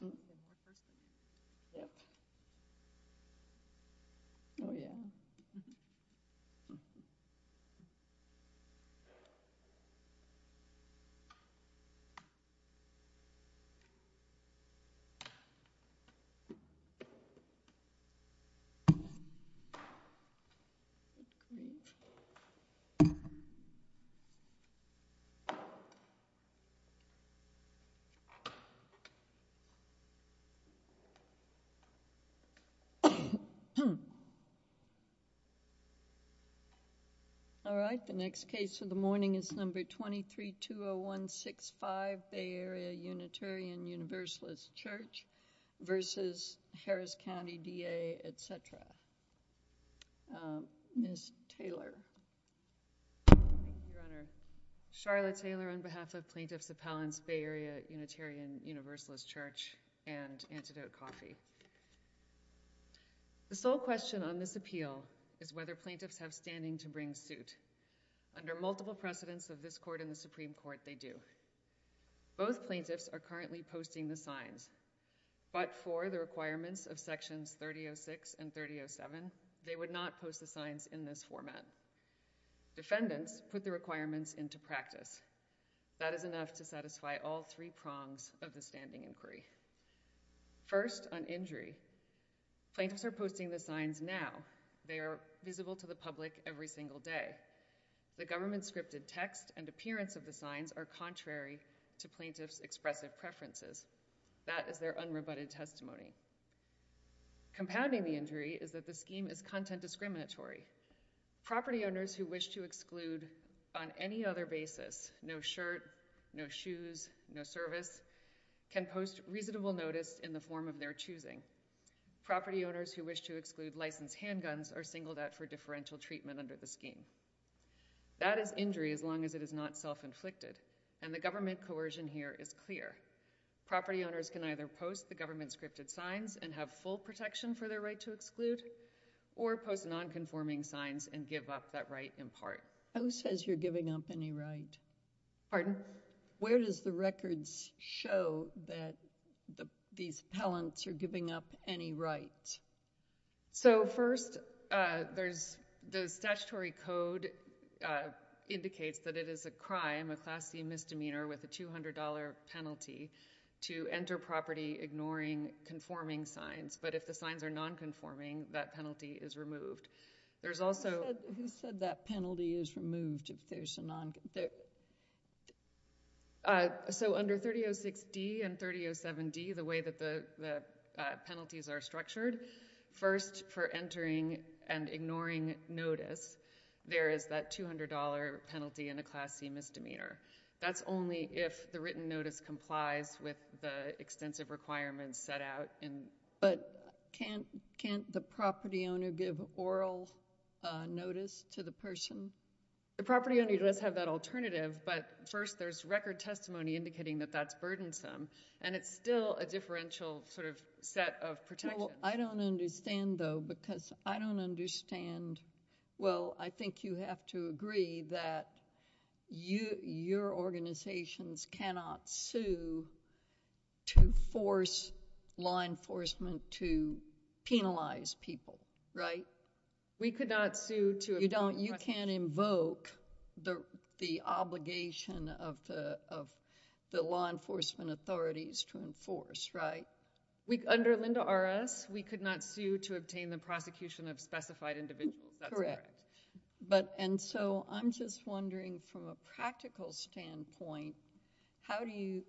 Red Cross there as well. All right, the next case of the morning is number 2320165, Bay Area Unitarian Universalist Church versus Harris County DA, etc. Ms. Taylor. Thank you, Your Honor. Charlotte Taylor on behalf of Plaintiffs Appellants, Bay Area Unitarian Universalist Church and Antidote Coffee. The sole question on this appeal is whether plaintiffs have standing to bring suit. Under multiple precedents of this court and the Supreme Court, they do. Both plaintiffs are currently posting the signs, but for the requirements of sections 3006 and 3007, they would not post the signs in this format. Defendants put the requirements into practice. That is enough to satisfy all three prongs of the standing inquiry. First on injury, plaintiffs are posting the signs now. They are visible to the public every single day. The government-scripted text and appearance of the signs are contrary to plaintiffs' expressive preferences. That is their unrebutted testimony. Compounding the injury is that the scheme is content discriminatory. Property owners who wish to exclude on any other basis, no shirt, no shoes, no service, can post reasonable notice in the form of their choosing. Property owners who wish to exclude licensed handguns are singled out for differential treatment under the scheme. That is injury as long as it is not self-inflicted, and the government coercion here is clear. Property owners can either post the government-scripted signs and have full protection for their right to exclude, or post non-conforming signs and give up that right in part. Who says you're giving up any right? Pardon? Where does the records show that these appellants are giving up any right? So, first, there's the statutory code indicates that it is a crime, a class C misdemeanor with a $200 penalty to enter property ignoring conforming signs, but if the signs are non-conforming, that penalty is removed. There's also— Who said that penalty is removed if there's a non— So, under 3006D and 3007D, the way that the penalties are structured, first, for entering and ignoring notice, there is that $200 penalty in a class C misdemeanor. That's only if the written notice complies with the extensive requirements set out in— But can't the property owner give oral notice to the person? The property owner does have that alternative, but first, there's record testimony indicating that that's burdensome, and it's still a differential sort of set of protections. I don't understand, though, because I don't understand— Well, I think you have to agree that your organizations cannot sue to force law enforcement to penalize people, right? We could not sue to— You can't invoke the obligation of the law enforcement authorities to enforce, right? Under Linda R.S., we could not sue to obtain the prosecution of specified individuals. That's correct. Correct. And so, I'm just wondering, from a practical standpoint, how do you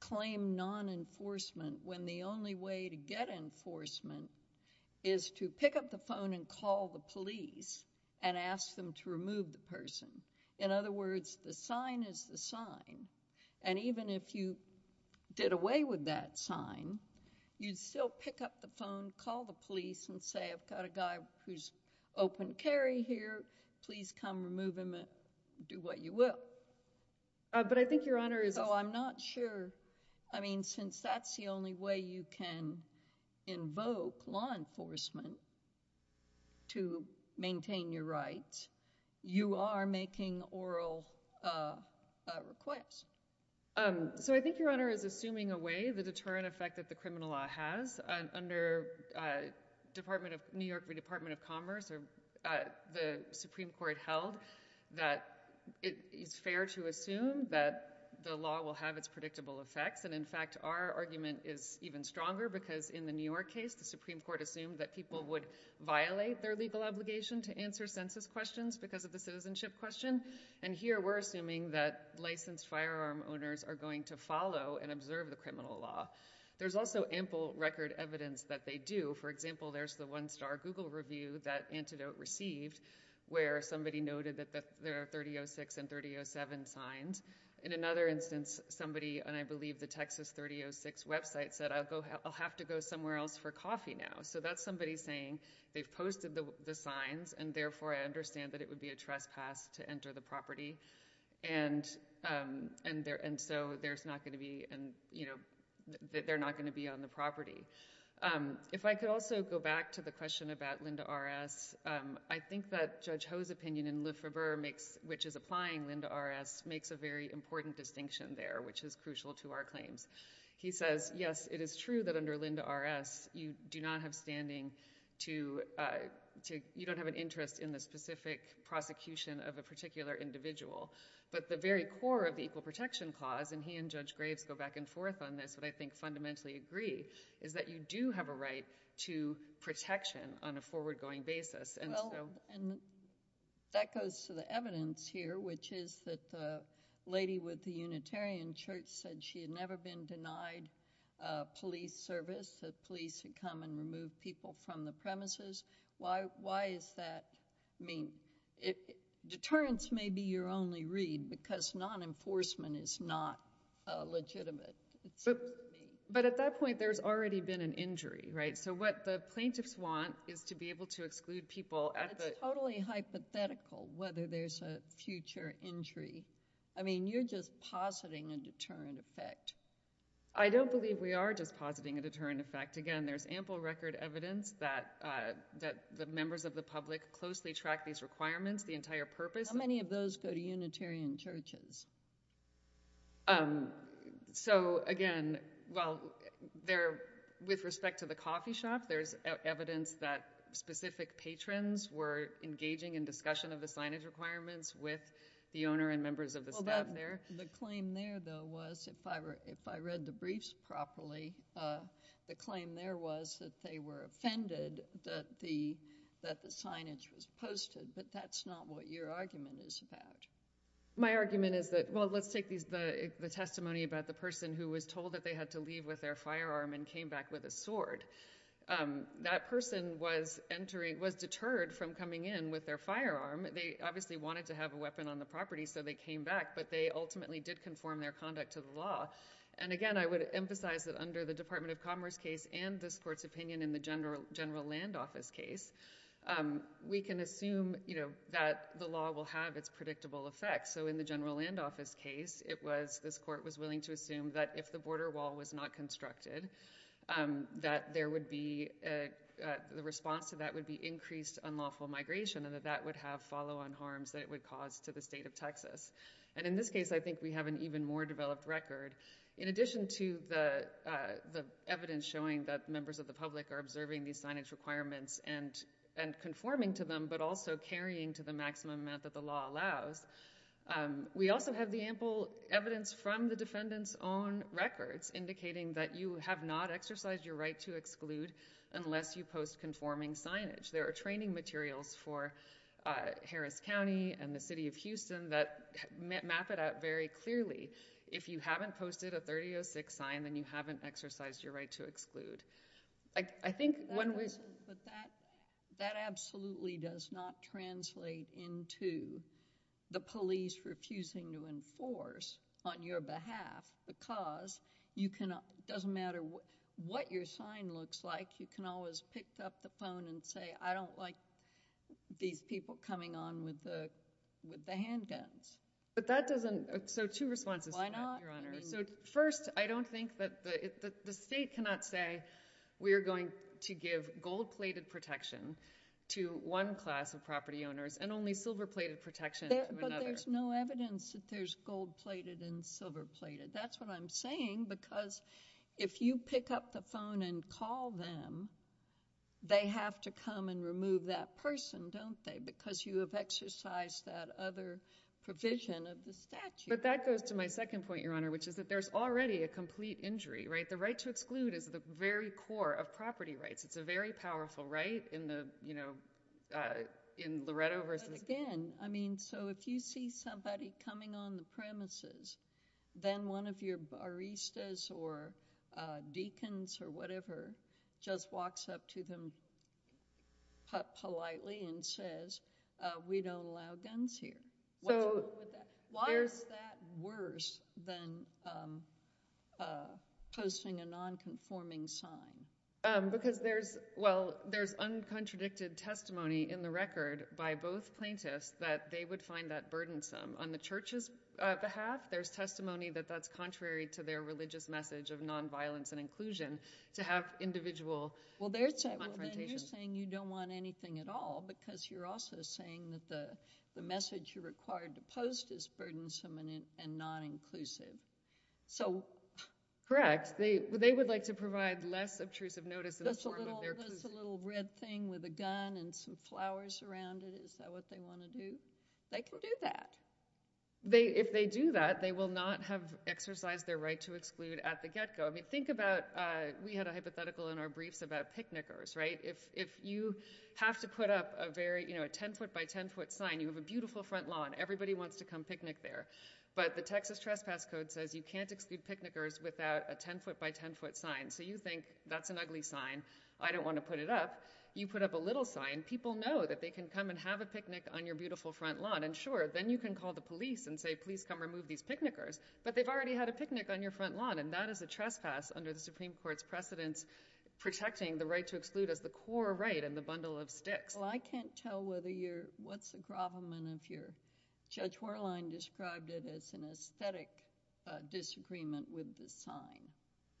claim non-enforcement when the only way to get enforcement is to pick up the phone and call the police and ask them to remove the person? In other words, the sign is the sign, and even if you did away with that sign, you'd still pick up the phone, call the police, and say, I've got a guy who's open carry here. Please come remove him and do what you will. But I think Your Honor is— So, I'm not sure. I mean, since that's the only way you can invoke law enforcement to maintain your rights, you are making oral requests. So, I think Your Honor is assuming away the deterrent effect that the criminal law has. Under New York Department of Commerce, the Supreme Court held that it is fair to assume that the law will have its predictable effects, and in fact, our argument is even stronger because in the New York case, the Supreme Court assumed that people would violate their legal obligation to answer census questions because of the citizenship question, and here we're assuming that licensed firearm owners are going to follow and observe the criminal law. There's also ample record evidence that they do. For example, there's the one-star Google review that Antidote received where somebody noted that there are 30.06 and 30.07 signs. In another instance, somebody on, I believe, the Texas 30.06 website said, I'll have to go somewhere else for coffee now. So, that's somebody saying they've posted the signs, and therefore, I understand that it would be a trespass to enter the property, and so, there's not going to be, you know, they're not going to be on the property. If I could also go back to the question about Lynda R.S., I think that Judge Ho's opinion in Liffever, which is applying Lynda R.S., makes a very important distinction there, which is crucial to our claims. He says, yes, it is true that under Lynda R.S., you do not have standing to, you don't have an interest in the specific prosecution of a particular individual, but the very core of the Equal Protection Clause, and he and Judge Graves go back and forth on this, but I think fundamentally agree, is that you do have a right to protection on a forward-going basis. Well, and that goes to the evidence here, which is that the lady with the Unitarian Church said she had never been denied police service, that police would come and remove people from the premises. Why is that? I mean, deterrence may be your only read, because non-enforcement is not legitimate. But at that point, there's already been an injury, right? So, what the plaintiffs want is to be able to exclude people at the— It's totally hypothetical whether there's a future injury. I mean, you're just positing a deterrent effect. I don't believe we are just positing a deterrent effect. Again, there's ample record evidence that the members of the public closely track these requirements, the entire purpose— How many of those go to Unitarian churches? So, again, well, with respect to the coffee shop, there's evidence that specific patrons were engaging in discussion of the signage requirements with the owner and members of the staff there. Well, the claim there, though, was, if I read the briefs properly, the claim there was that they were offended that the signage was posted. But that's not what your argument is about. My argument is that, well, let's take the testimony about the person who was told that that person was deterred from coming in with their firearm. They obviously wanted to have a weapon on the property, so they came back. But they ultimately did conform their conduct to the law. And, again, I would emphasize that under the Department of Commerce case and this court's opinion in the General Land Office case, we can assume that the law will have its predictable effects. So, in the General Land Office case, this court was willing to assume that if the border was closed, there would be, the response to that would be increased unlawful migration and that that would have follow-on harms that it would cause to the state of Texas. And in this case, I think we have an even more developed record. In addition to the evidence showing that members of the public are observing these signage requirements and conforming to them, but also carrying to the maximum amount that the law allows, we also have the ample evidence from the defendant's own records indicating that you have not exercised your right to exclude unless you post conforming signage. There are training materials for Harris County and the city of Houston that map it out very clearly. If you haven't posted a 3006 sign, then you haven't exercised your right to exclude. I think when we— But that absolutely does not translate into the police refusing to enforce on your behalf the cause. It doesn't matter what your sign looks like. You can always pick up the phone and say, I don't like these people coming on with the handguns. But that doesn't—so, two responses to that, Your Honor. Why not? I mean— So, first, I don't think that—the state cannot say, we are going to give gold-plated protection to one class of property owners and only silver-plated protection to another. Well, there's no evidence that there's gold-plated and silver-plated. That's what I'm saying because if you pick up the phone and call them, they have to come and remove that person, don't they? Because you have exercised that other provision of the statute. But that goes to my second point, Your Honor, which is that there's already a complete injury, right? The right to exclude is the very core of property rights. It's a very powerful right in the, you know, in Loretto versus— Again, I mean, so if you see somebody coming on the premises, then one of your baristas or deacons or whatever just walks up to them politely and says, we don't allow guns here. So, there's— Why is that worse than posting a non-conforming sign? Because there's—well, there's uncontradicted testimony in the record by both plaintiffs that they would find that burdensome. On the church's behalf, there's testimony that that's contrary to their religious message of nonviolence and inclusion to have individual confrontations. Well, then you're saying you don't want anything at all because you're also saying that the message you're required to post is burdensome and non-inclusive. So— Correct. Yes, they would like to provide less obtrusive notice in the form of their— That's a little red thing with a gun and some flowers around it. Is that what they want to do? They can do that. If they do that, they will not have exercised their right to exclude at the get-go. I mean, think about—we had a hypothetical in our briefs about picnickers, right? If you have to put up a very, you know, a 10-foot by 10-foot sign, you have a beautiful front lawn, everybody wants to come picnic there. But the Texas Trespass Code says you can't exclude picnickers without a 10-foot by 10-foot sign. So you think, that's an ugly sign, I don't want to put it up. You put up a little sign, people know that they can come and have a picnic on your beautiful front lawn. And sure, then you can call the police and say, please come remove these picnickers. But they've already had a picnic on your front lawn, and that is a trespass under the Supreme Court's precedence protecting the right to exclude as the core right in the bundle of sticks. Well, I can't tell whether you're—what's the problem if your—Judge Warline described it as an aesthetic disagreement with the sign.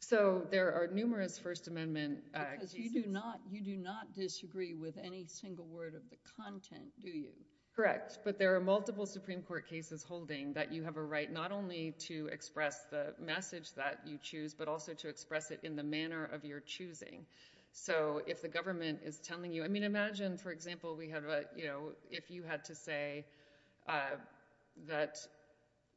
So, there are numerous First Amendment cases— Because you do not disagree with any single word of the content, do you? Correct. But there are multiple Supreme Court cases holding that you have a right not only to express the message that you choose, but also to express it in the manner of your choosing. So, if the government is telling you—I mean, imagine, for example, we have a, you know, if you had to say that,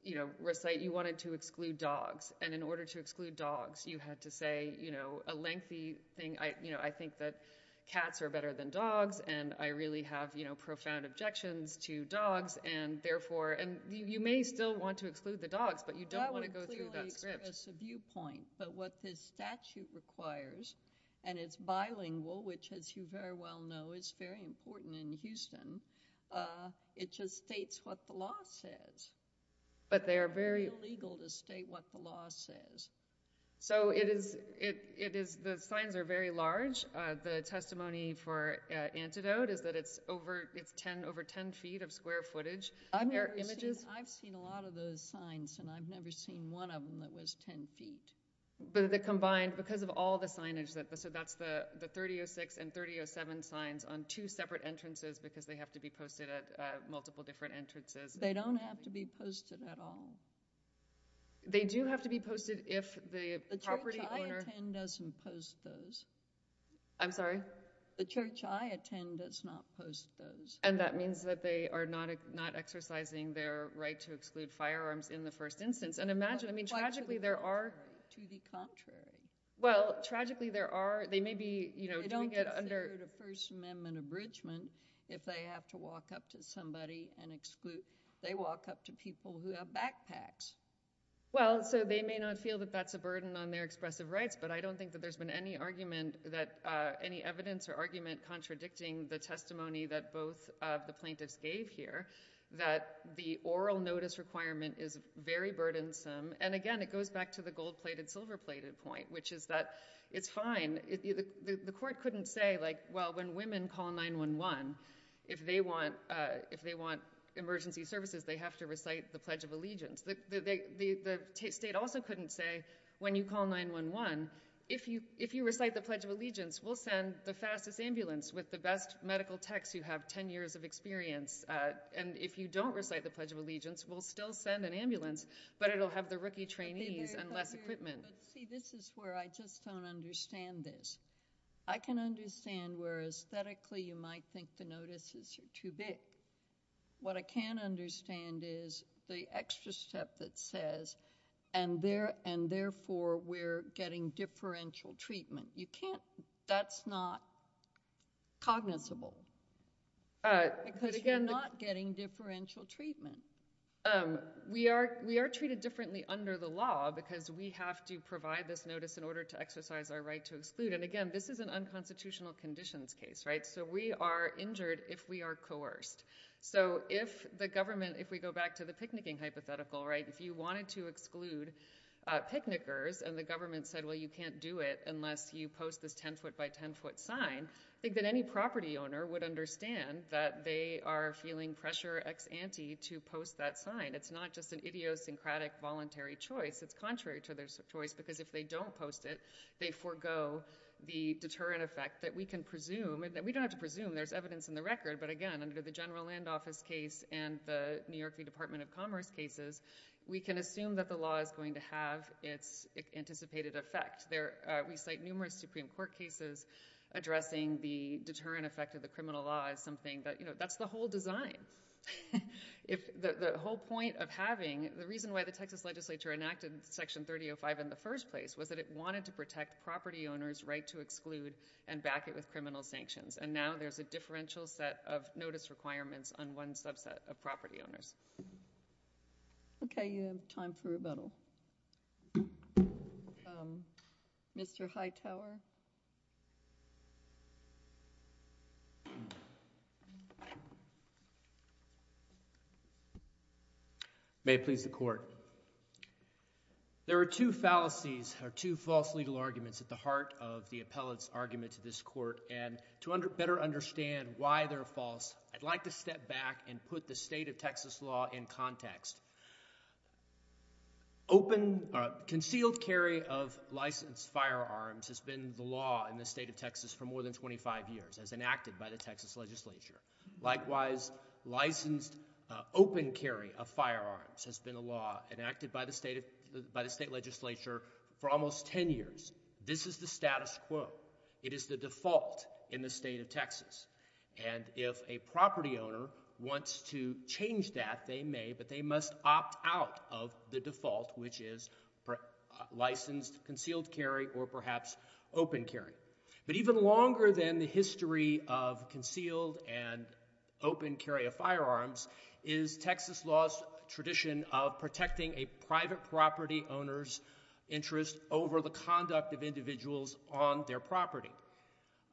you know, recite—you wanted to exclude dogs, and in order to exclude dogs, you had to say, you know, a lengthy thing, you know, I think that cats are better than dogs, and I really have, you know, profound objections to dogs, and therefore—and you may still want to exclude the dogs, but you don't want to go through that script. But what this statute requires, and it's bilingual, which as you very well know is very important in Houston, it just states what the law says. But they are very— It's illegal to state what the law says. So, it is—the signs are very large. The testimony for Antidote is that it's over 10 feet of square footage. I've never seen—I've seen a lot of those signs, and I've never seen one of them that was 10 feet. But the combined—because of all the signage, so that's the 3006 and 3007 signs on two separate entrances because they have to be posted at multiple different entrances. They don't have to be posted at all. They do have to be posted if the property owner— The church I attend doesn't post those. I'm sorry? The church I attend does not post those. And that means that they are not exercising their right to exclude firearms in the first instance. And imagine—I mean, tragically, there are— To the contrary. Well, tragically, there are—they may be— They don't consider it a First Amendment abridgment if they have to walk up to somebody and exclude—they walk up to people who have backpacks. Well, so they may not feel that that's a burden on their expressive rights, but I don't think that there's been any argument that—any evidence or argument contradicting the testimony that both of the plaintiffs gave here, that the oral notice requirement is very burdensome. And again, it goes back to the gold-plated, silver-plated point, which is that it's fine. The court couldn't say, like, well, when women call 911, if they want emergency services, they have to recite the Pledge of Allegiance. The state also couldn't say, when you call 911, if you recite the Pledge of Allegiance, we'll send the fastest ambulance with the best medical techs who have 10 years of experience. And if you don't recite the Pledge of Allegiance, we'll still send an ambulance, but it'll have the rookie trainees and less equipment. But see, this is where I just don't understand this. I can understand where, aesthetically, you might think the notices are too big. What I can't understand is the extra step that says, and therefore, we're getting differential treatment. You can't—that's not cognizable. Because you're not getting differential treatment. We are treated differently under the law because we have to provide this notice in order to exercise our right to exclude. And again, this is an unconstitutional conditions case, right? So we are injured if we are coerced. So if the government—if we go back to the picnicking hypothetical, right? If you wanted to exclude picnickers and the government said, well, you can't do it unless you post this 10-foot by 10-foot sign, I think that any property owner would understand that they are feeling pressure ex ante to post that sign. It's not just an idiosyncratic voluntary choice. It's contrary to their choice because if they don't post it, they forgo the deterrent effect that we can presume—and we don't have to presume. There's evidence in the record. But again, under the General Land Office case and the New York Department of Commerce cases, we can assume that the law is going to have its anticipated effect. There—we cite numerous Supreme Court cases addressing the deterrent effect of the criminal law as something that—you know, that's the whole design. If—the whole point of having—the reason why the Texas legislature enacted Section 3005 in the first place was that it wanted to protect property owners' right to exclude and back it with criminal sanctions. And now there's a differential set of notice requirements on one subset of property owners. Okay. You have time for rebuttal. Mr. Hightower? May it please the Court. There are two fallacies or two false legal arguments at the heart of the appellate's argument to this Court. And to better understand why they're false, I'd like to step back and put the state of Texas law in context. Open—concealed carry of licensed firearms has been the law in the state of Texas for more than 25 years, as enacted by the Texas legislature. Likewise, licensed open carry of firearms has been a law enacted by the state of—by the state legislature for almost 10 years. This is the status quo. It is the default in the state of Texas. And if a property owner wants to change that, they may, but they must opt out of the default, which is licensed concealed carry or perhaps open carry. But even longer than the history of concealed and open carry of firearms is Texas law's tradition of protecting a private property owner's interest over the conduct of individuals on their property.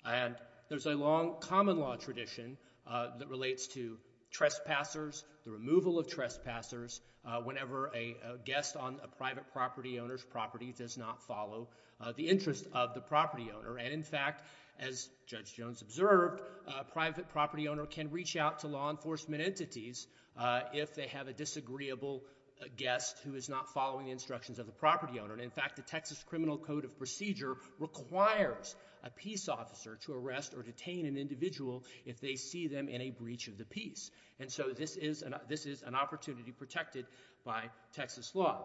And there's a long common law tradition that relates to trespassers, the removal of trespassers, whenever a guest on a private property owner's property does not follow the interest of the property owner. And in fact, as Judge Jones observed, a private property owner can reach out to law enforcement entities if they have a disagreeable guest who is not following the instructions of the property owner. And in fact, the Texas Criminal Code of Procedure requires a peace officer to arrest or detain an individual if they see them in a breach of the peace. And so this is an opportunity protected by Texas law.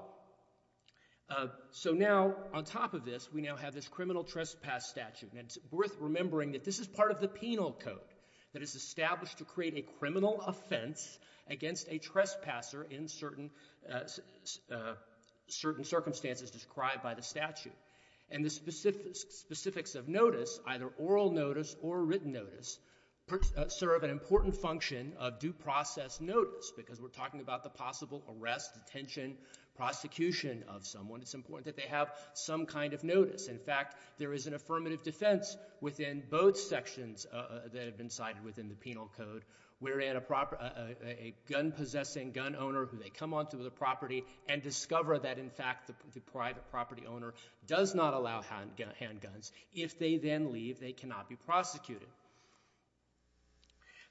So now, on top of this, we now have this criminal trespass statute. And it's worth remembering that this is part of the penal code that is established to create a criminal offense against a trespasser in certain circumstances described by the statute. And the specifics of notice, either oral notice or written notice, serve an important function of due process notice, because we're talking about the possible arrest, detention, prosecution of someone. It's important that they have some kind of notice. In fact, there is an affirmative defense within both sections that have been cited within the penal code wherein a gun-possessing gun owner, they come onto the property and discover that, in fact, the private property owner does not allow handguns. If they then leave, they cannot be prosecuted.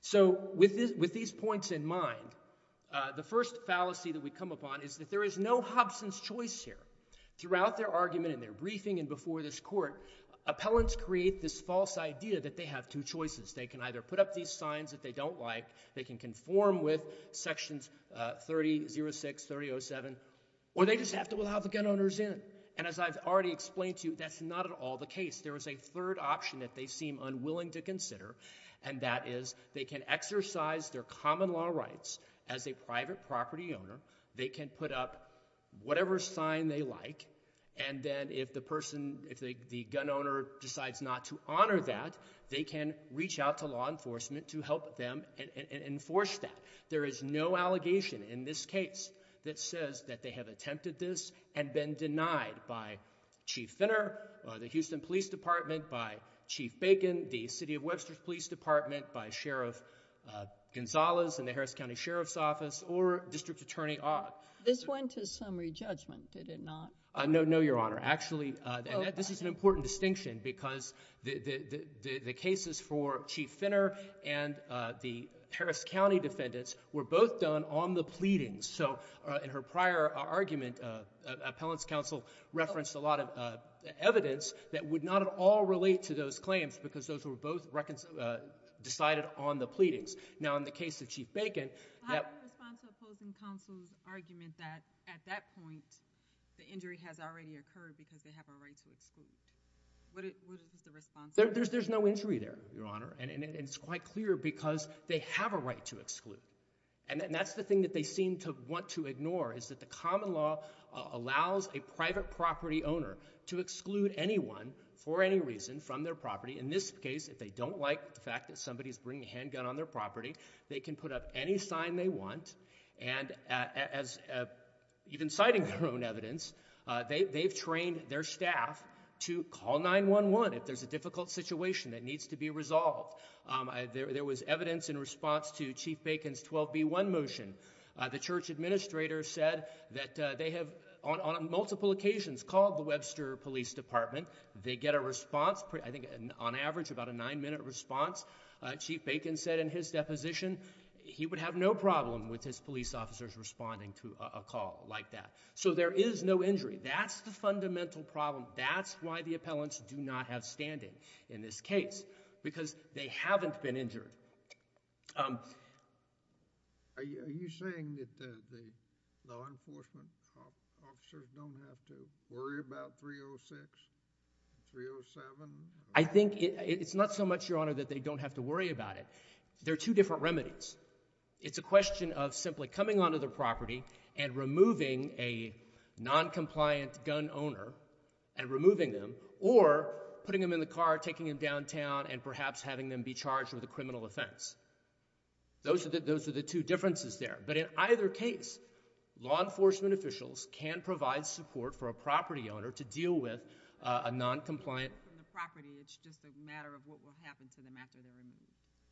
So with these points in mind, the first fallacy that we come upon is that there is no Hobson's choice here. Throughout their argument and their briefing and before this court, appellants create this false idea that they have two choices. They can either put up these signs that they don't like. They can conform with sections 30.06, 30.07. Or they just have to allow the gun owners in. And as I've already explained to you, that's not at all the case. There is a third option that they seem unwilling to consider, and that is they can exercise their common law rights as a private property owner. They can put up whatever sign they like. And then if the person, if the gun owner decides not to honor that, they can reach out to law enforcement to help them enforce that. There is no allegation in this case that says that they have attempted this and been denied by Chief Finner, the Houston Police Department, by Chief Bacon, the City of Webster's Police Department, by Sheriff Gonzalez in the Harris County Sheriff's Office, or District Attorney Ott. This went to summary judgment, did it not? No, Your Honor. Actually, this is an important distinction because the cases for Chief Finner and the Harris County defendants were both done on the pleadings. So in her prior argument, appellants counsel referenced a lot of evidence that would not at all relate to those claims because those were both decided on the pleadings. Now, in the case of Chief Bacon— How do you respond to opposing counsel's argument that at that point the injury has already occurred because they have a right to exclude? What is the response? There's no injury there, Your Honor. And it's quite clear because they have a right to exclude. And that's the thing that they seem to want to ignore is that the common law allows a private property owner to exclude anyone for any reason from their property. In this case, if they don't like the fact that somebody's bringing a handgun on their property, they can put up any sign they want. And even citing their own evidence, they've trained their staff to call 911 if there's a difficult situation that needs to be resolved. There was evidence in response to Chief Bacon's 12B1 motion. The church administrator said that they have on multiple occasions called the Webster Police Department. They get a response, I think on average about a nine-minute response. Chief Bacon said in his deposition he would have no problem with his police officers responding to a call like that. So there is no injury. That's the fundamental problem. That's why the appellants do not have standing in this case because they haven't been injured. Are you saying that the law enforcement officers don't have to worry about 306, 307? I think it's not so much, Your Honor, that they don't have to worry about it. They're two different remedies. It's a question of simply coming onto their property and removing a noncompliant gun owner and removing them, or putting them in the car, taking them downtown, and perhaps having them be charged with a criminal offense. Those are the two differences there. But in either case, law enforcement officials can provide support for a property owner to deal with a noncompliant— From the property, it's just a matter of what will happen to them after they're removed.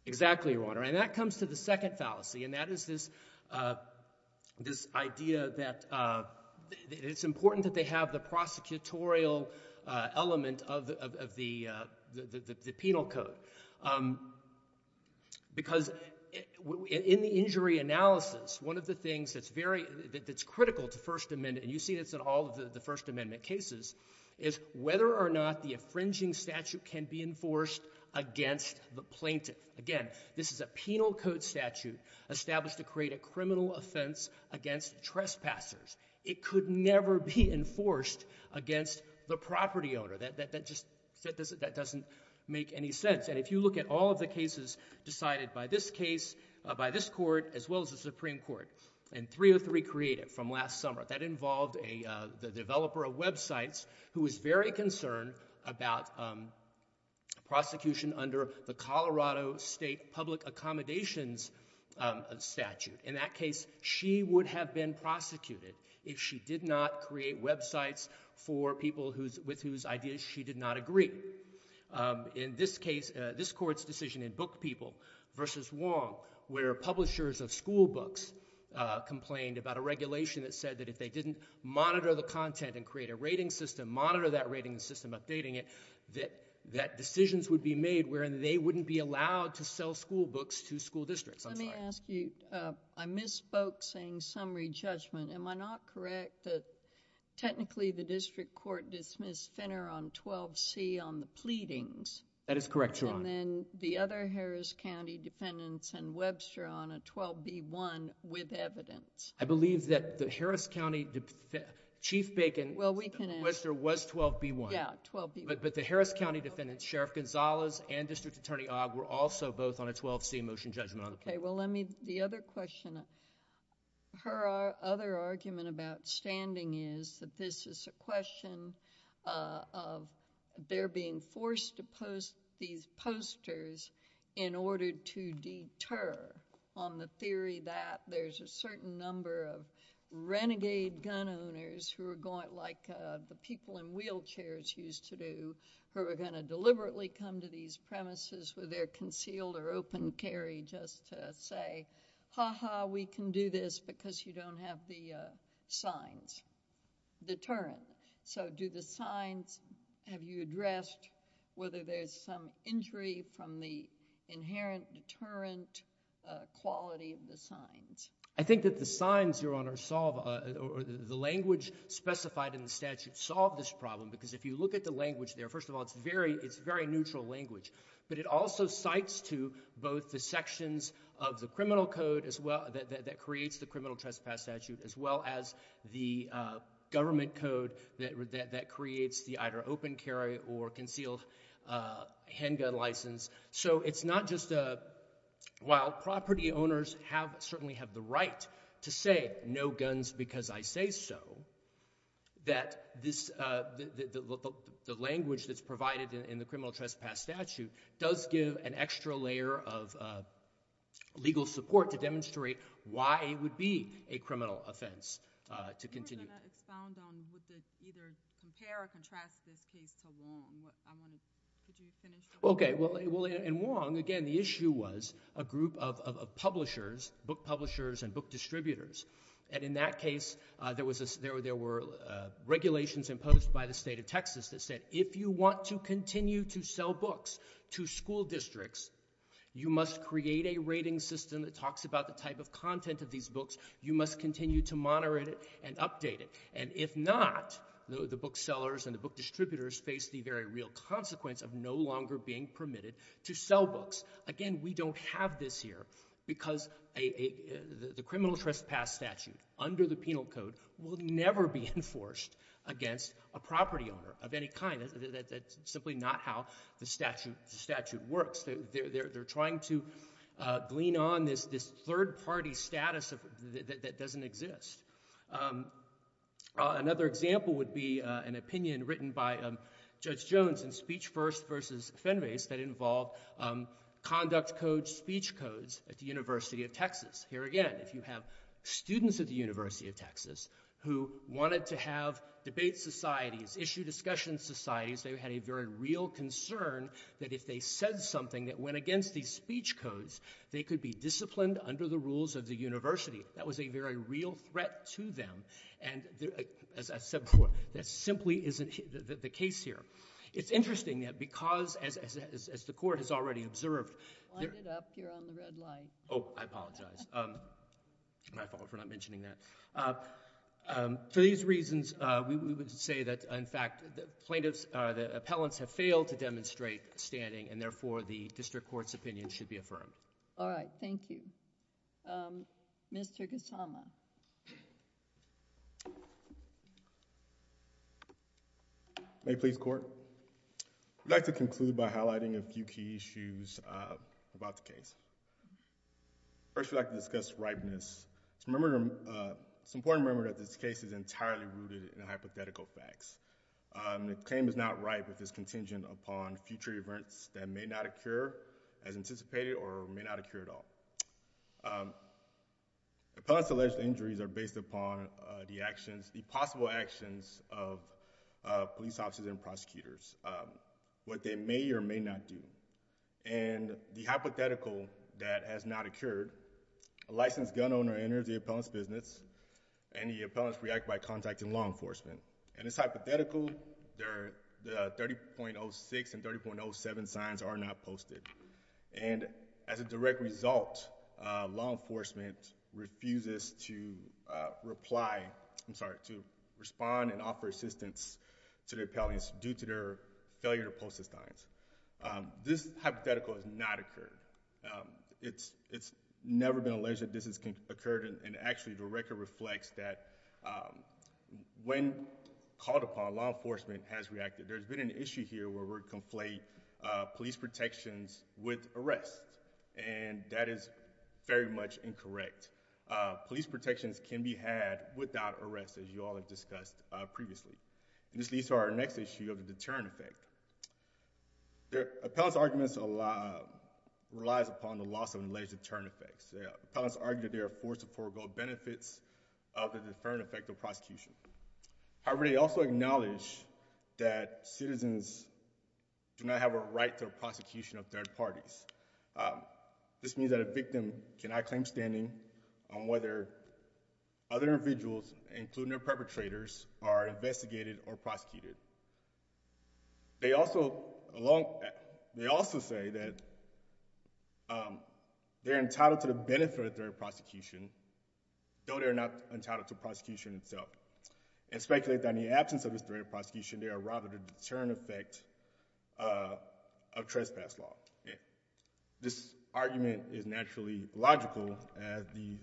Exactly, Your Honor. And that comes to the second fallacy, and that is this idea that it's important that they have the prosecutorial element of the penal code. Because in the injury analysis, one of the things that's critical to First Amendment, and you see this in all of the First Amendment cases, is whether or not the infringing statute can be enforced against the plaintiff. Again, this is a penal code statute established to create a criminal offense against trespassers. It could never be enforced against the property owner. That just doesn't make any sense. And if you look at all of the cases decided by this case, by this court, as well as the Supreme Court, and 303 created from last summer, that involved the developer of websites who was very concerned about prosecution under the Colorado State Public Accommodations statute. In that case, she would have been prosecuted if she did not create websites for people with whose ideas she did not agree. In this case, this court's decision in Book People versus Wong, where publishers of school books complained about a regulation that said that if they didn't monitor the content and create a rating system, monitor that rating system, updating it, that decisions would be made wherein they wouldn't be allowed to sell school books to school districts. I'm sorry. Let me ask you, I misspoke saying summary judgment. Am I not correct that technically the district court dismissed Finner on 12C on the pleadings? That is correct, Your Honor. And then the other Harris County defendants and Webster on a 12B1 with evidence? I believe that the Harris County, Chief Bacon, Webster, was 12B1. Yeah, 12B1. But the Harris County defendants, Sheriff Gonzalez and District Attorney Ogg, were also both on a 12C motion judgment on the pleadings. Okay. Well, let me, the other question, her other argument about standing is that this is a question of they're being forced to post these posters in order to deter on the theory that there's a certain number of renegade gun owners who are going, like the people in wheelchairs used to do, who are going to deliberately come to these premises with their concealed or open carry just to say, ha ha, we can do this because you don't have the signs, deterrent. So do the signs, have you addressed whether there's some injury from the inherent deterrent quality of the signs? I think that the signs, Your Honor, solve, or the language specified in the statute, solve this problem because if you look at the language there, first of all, it's very neutral language. But it also cites to both the sections of the criminal code as well, that creates the criminal trespass statute, as well as the government code that creates the either open carry or concealed handgun license. So it's not just a, while property owners have, certainly have the right to say, no in the criminal trespass statute, does give an extra layer of legal support to demonstrate why it would be a criminal offense to continue. You were going to expound on would they either compare or contrast this case to Wong. Could you finish the question? Okay. Well, in Wong, again, the issue was a group of publishers, book publishers and book distributors. And in that case, there were regulations imposed by the state of Texas that said if you want to continue to sell books to school districts, you must create a rating system that talks about the type of content of these books. You must continue to monitor it and update it. And if not, the book sellers and the book distributors face the very real consequence of no longer being permitted to sell books. Again, we don't have this here because the criminal trespass statute under the penal code will never be enforced against a property owner of any kind. That's simply not how the statute works. They're trying to glean on this third party status that doesn't exist. Another example would be an opinion written by Judge Jones in Speech First versus Fenway that involved conduct codes, speech codes at the University of Texas. Here again, if you have students at the University of Texas who wanted to have debate societies, issue discussion societies, they had a very real concern that if they said something that went against these speech codes, they could be disciplined under the rules of the university. That was a very real threat to them. And as I said before, that simply isn't the case here. It's interesting that because, as the court has already observed... Wind it up. You're on the red light. Oh, I apologize. My fault for not mentioning that. For these reasons, we would say that, in fact, the plaintiffs, the appellants have failed to demonstrate standing, and therefore, the district court's opinion should be affirmed. All right. Thank you. Mr. Kusama. May it please the Court? I'd like to conclude by highlighting a few key issues about the case. First, I'd like to discuss ripeness. It's important to remember that this case is entirely rooted in hypothetical facts. The claim is not ripe if it's contingent upon future events that may not occur as anticipated or may not occur at all. Appellants' alleged injuries are based upon the actions, the possible actions of police officers and prosecutors, what they may or may not do. And the hypothetical that has not occurred, a licensed gun owner enters the appellant's business, and the appellants react by contacting law enforcement. And it's hypothetical. The 30.06 and 30.07 signs are not posted. And as a direct result, law enforcement refuses to reply, I'm sorry, to respond and offer assistance to the appellants due to their failure to post the signs. This hypothetical has not occurred. It's never been alleged that this has occurred, and actually, the record reflects that when called upon, law enforcement has reacted. There's been an issue here where we conflate police protections with arrests, and that is very much incorrect. Police protections can be had without arrests, as you all have discussed previously. And this leads to our next issue of the deterrent effect. Appellants' arguments relies upon the loss of alleged deterrent effects. Appellants argue that they are forced to forego benefits of the deterrent effect of prosecution. However, they also acknowledge that citizens do not have a right to prosecution of third parties. This means that a victim cannot claim standing on whether other individuals, including their perpetrators, are investigated or prosecuted. They also say that they're entitled to the benefit of third prosecution, though they're not entitled to prosecution itself, and speculate that in the absence of this third prosecution, they are rather the deterrent effect of trespass law. This argument is naturally logical, as you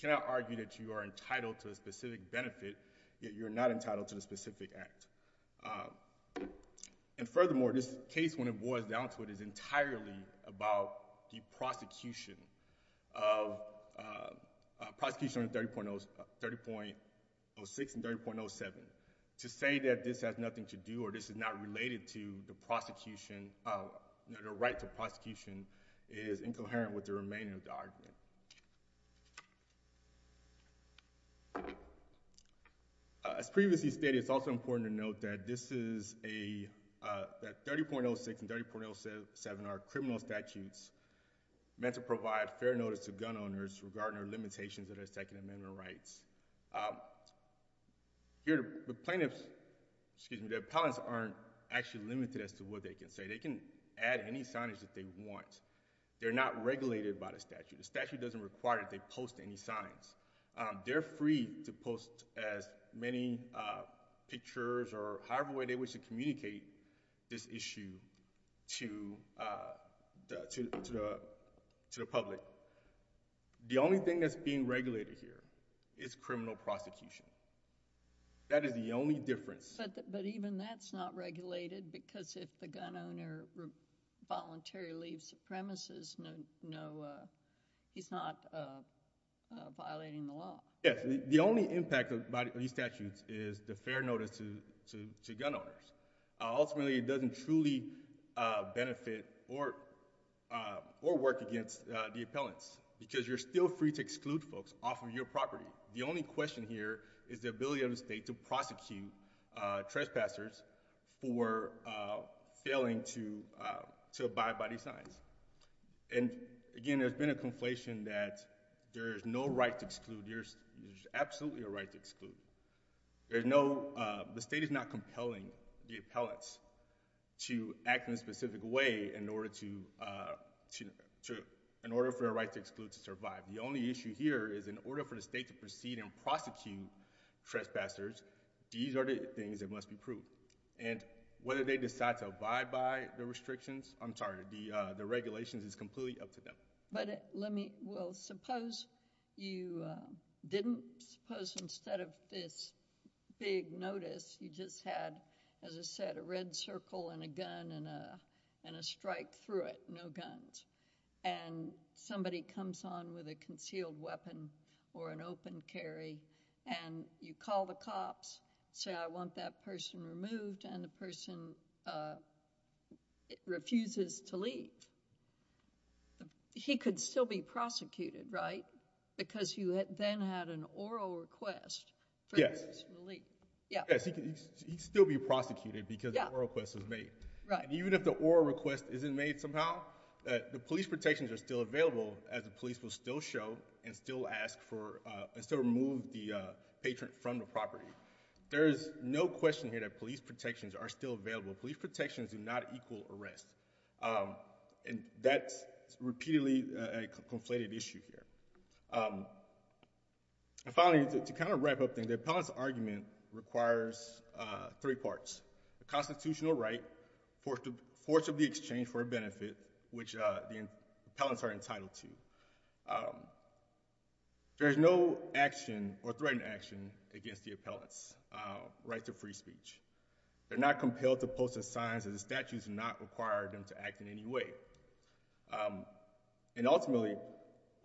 cannot argue that you are entitled to a specific benefit, yet you're not entitled to the specific act. And furthermore, this case, when it boils down to it, is entirely about the prosecution of 30.06 and 30.07. To say that this has nothing to do or this is not related to the right to prosecution is incoherent with the remaining of the argument. As previously stated, it's also important to note that 30.06 and 30.07 are criminal statutes meant to provide fair notice to gun owners regarding the limitations of their Second Amendment rights. The plaintiffs, excuse me, the appellants aren't actually limited as to what they can say. They can add any signage that they want. They're not regulated by the statute. The statute doesn't require that they post any signs. They're free to post as many pictures or however way they wish to communicate this issue to the public. The only thing that's being regulated here is criminal prosecution. That is the only difference. But even that's not regulated because if the gun owner voluntarily leaves the premises, he's not violating the law. Yes. The only impact of these statutes is the fair notice to gun owners. Ultimately, it doesn't truly benefit or work against the appellants because you're still free to exclude folks off of your property. The only question here is the ability of the state to prosecute trespassers for failing to abide by these signs. Again, there's been a conflation that there's no right to exclude. There's absolutely a right to exclude. The state is not compelling the appellants to act in a specific way in order for their right to exclude to survive. The only issue here is in order for the state to proceed and prosecute trespassers, these are the things that must be proved. Whether they decide to abide by the restrictions, I'm sorry, the regulations is completely up to them. But let me... Well, suppose you didn't. Suppose instead of this big notice, you just had, as I said, a red circle and a gun and a strike through it, no guns. And somebody comes on with a concealed weapon or an open carry, and you call the cops, say I want that person removed, and the person refuses to leave. He could still be prosecuted, right? Because you then had an oral request for his release. Yes. Yes, he could still be prosecuted because an oral request was made. Right. Even if the oral request isn't made somehow, the police protections are still available as the police will still show and still ask for... and still remove the patron from the property. There is no question here that police protections are still available. Police protections do not equal arrest. And that's repeatedly a conflated issue here. And finally, to kind of wrap up things, the appellant's argument requires three parts. The constitutional right, force of the exchange for a benefit, which the appellants are entitled to. There is no action or threatened action against the appellant's right to free speech. They're not compelled to post a sign that the statute does not require them to act in any way. And ultimately,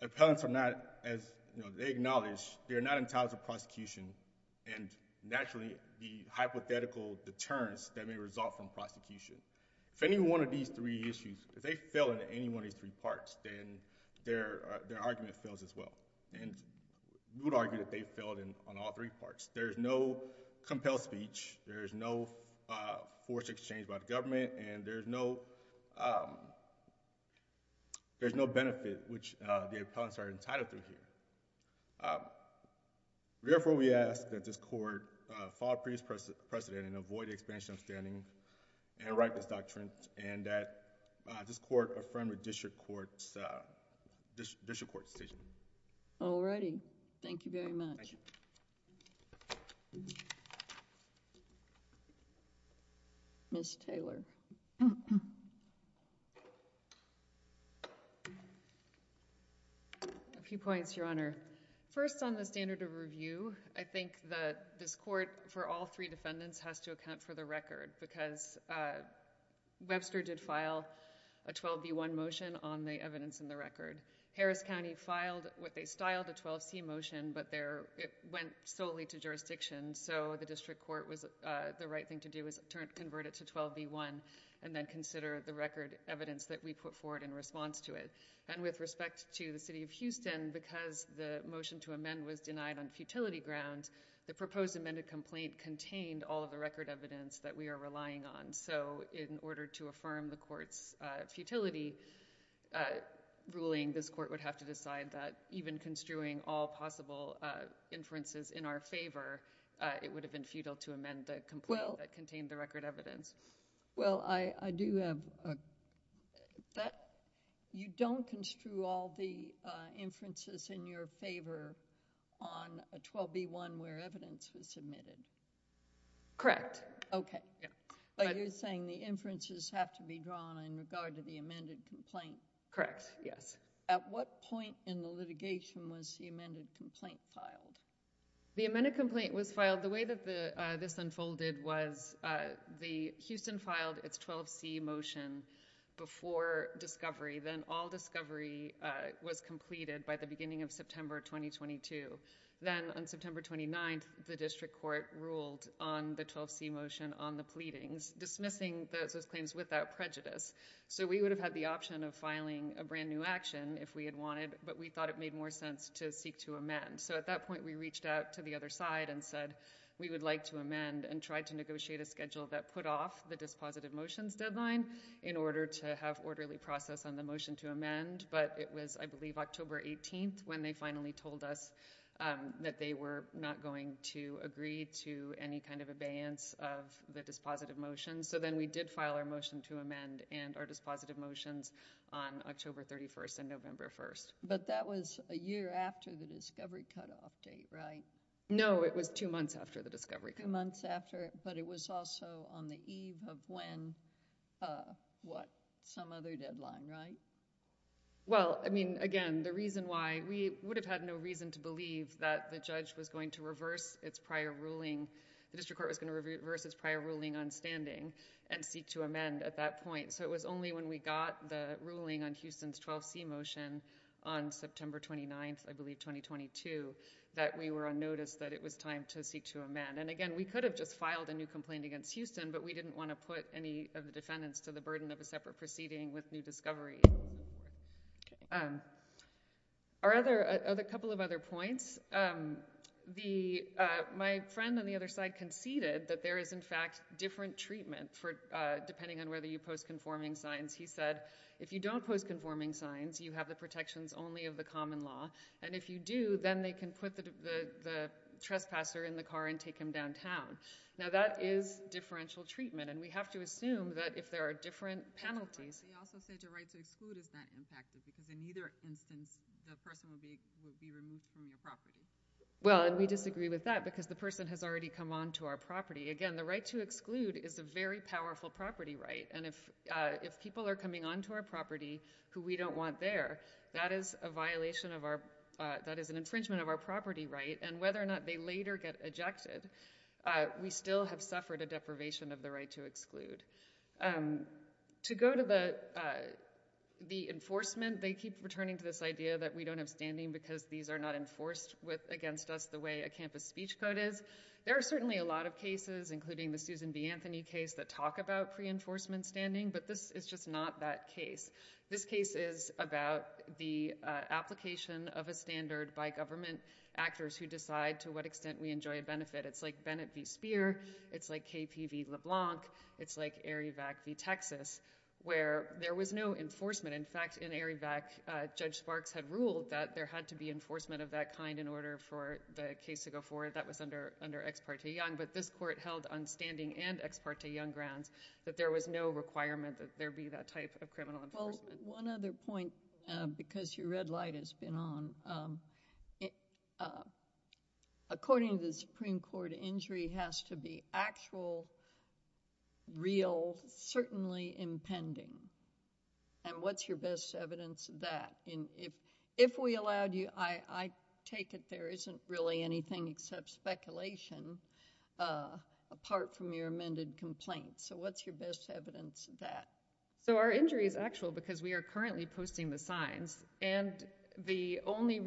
appellants are not, as they acknowledge, they are not entitled to prosecution. And naturally, the hypothetical deterrence that may result from prosecution. If any one of these three issues, if they fail in any one of these three parts, then their argument fails as well. And we would argue that they failed on all three parts. There is no compelled speech. There is no force of exchange by the government. And there is no benefit, which the appellants are entitled to here. Therefore, we ask that this court follow previous precedent and avoid expansion of standing and write this doctrine and that this court affirm the district court's decision. All righty. Thank you very much. Ms. Taylor. A few points, Your Honor. First, on the standard of review, I think that this court, for all three defendants, has to account for the record because Webster did file a 12B1 motion on the evidence in the record. Harris County filed what they styled a 12C motion, but it went solely to jurisdiction. So the district court, the right thing to do is convert it to 12B1 and then consider the record evidence that we put forward in response to it. And with respect to the City of Houston, because the motion to amend was denied on futility grounds, the proposed amended complaint contained all of the record evidence that we are relying on. So in order to affirm the court's futility ruling, this court would have to decide that even construing all possible inferences in our favor, it would have been futile to amend the complaint that contained the record evidence. Well, I do have... you don't construe all the inferences in your favor on a 12B1 where evidence was submitted? Correct. Okay. But you're saying the inferences have to be drawn in regard to the amended complaint? Correct, yes. And at what point in the litigation was the amended complaint filed? The amended complaint was filed... the way that this unfolded was the... Houston filed its 12C motion before discovery. Then all discovery was completed by the beginning of September 2022. Then on September 29th, the district court ruled on the 12C motion on the pleadings, dismissing those claims without prejudice. So we would have had the option of filing a brand new action if we had wanted, but we thought it made more sense to seek to amend. So at that point, we reached out to the other side and said, we would like to amend and try to negotiate a schedule that put off the dispositive motions deadline in order to have orderly process on the motion to amend. But it was, I believe, October 18th when they finally told us that they were not going to agree to any kind of abeyance of the dispositive motions. So then we did file our motion to amend and our dispositive motions on October 31st and November 1st. But that was a year after the discovery cutoff date, right? No, it was two months after the discovery cutoff. Two months after, but it was also on the eve of when, what, some other deadline, right? Well, I mean, again, the reason why... we would have had no reason to believe that the judge was going to reverse its prior ruling... the district court was going to reverse its prior ruling on standing and seek to amend at that point. So it was only when we got the ruling on Houston's 12C motion on September 29th, I believe, 2022, that we were on notice that it was time to seek to amend. And again, we could have just filed a new complaint against Houston, but we didn't want to put any of the defendants to the burden of a separate proceeding with new discovery. A couple of other points. My friend on the other side conceded that there is, in fact, different treatment for depending on whether you post conforming signs. He said, if you don't post conforming signs, you have the protections only of the common law, and if you do, then they can put the trespasser in the car and take him downtown. Now that is differential treatment, and we have to assume that if there are different penalties... He also said the right to exclude is not impacted, because in either instance, the person will be removed from your property. Well, and we disagree with that, because the person has already come onto our property. Again, the right to exclude is a very powerful property right, and if people are coming onto our property who we don't want there, that is a violation of our... that is an infringement of our property right, and whether or not they later get ejected, we still have suffered a deprivation of the right to exclude. To go to the enforcement, they keep returning to this idea that we don't have standing because these are not enforced against us the way a campus speech code is. There are certainly a lot of cases, including the Susan B. Anthony case, that talk about pre-enforcement standing, but this is just not that case. This case is about the application of a standard by government actors who decide to what extent we enjoy a benefit. It's like Bennett v. Speer. It's like KP v. LeBlanc. It's like Arivak v. Texas, where there was no enforcement. In fact, in Arivak, Judge Sparks had ruled that there had to be enforcement of that kind in order for the case to go forward. That was under Ex parte Young, but this court held on standing and Ex parte Young grounds that there was no requirement that there be that type of criminal enforcement. One other point, because your red light has been on. According to the Supreme Court, injury has to be actual, real, certainly impending. What's your best evidence of that? If we allowed you, I take it there isn't really anything except speculation, apart from your amended complaints. What's your best evidence of that? Our injury is actual because we are currently posting the signs. The only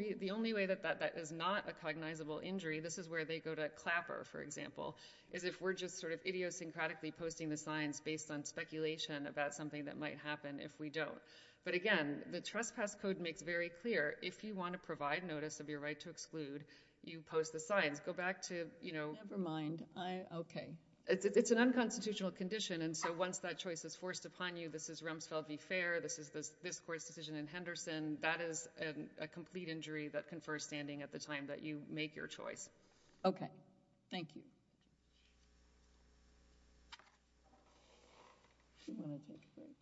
way that that is not a cognizable injury, this is where they go to Clapper, for example, is if we're just idiosyncratically posting the signs based on speculation about something that might happen if we don't. Again, the Trespass Code makes very clear, if you want to provide notice of your right to exclude, you post the signs. Go back to... Never mind. Okay. It's an unconstitutional condition, and so once that choice is forced upon you, this is Rumsfeld v. Fair, this is this court's decision in Henderson, that is a complete injury that confers standing at the time that you make your choice. Okay. Thank you.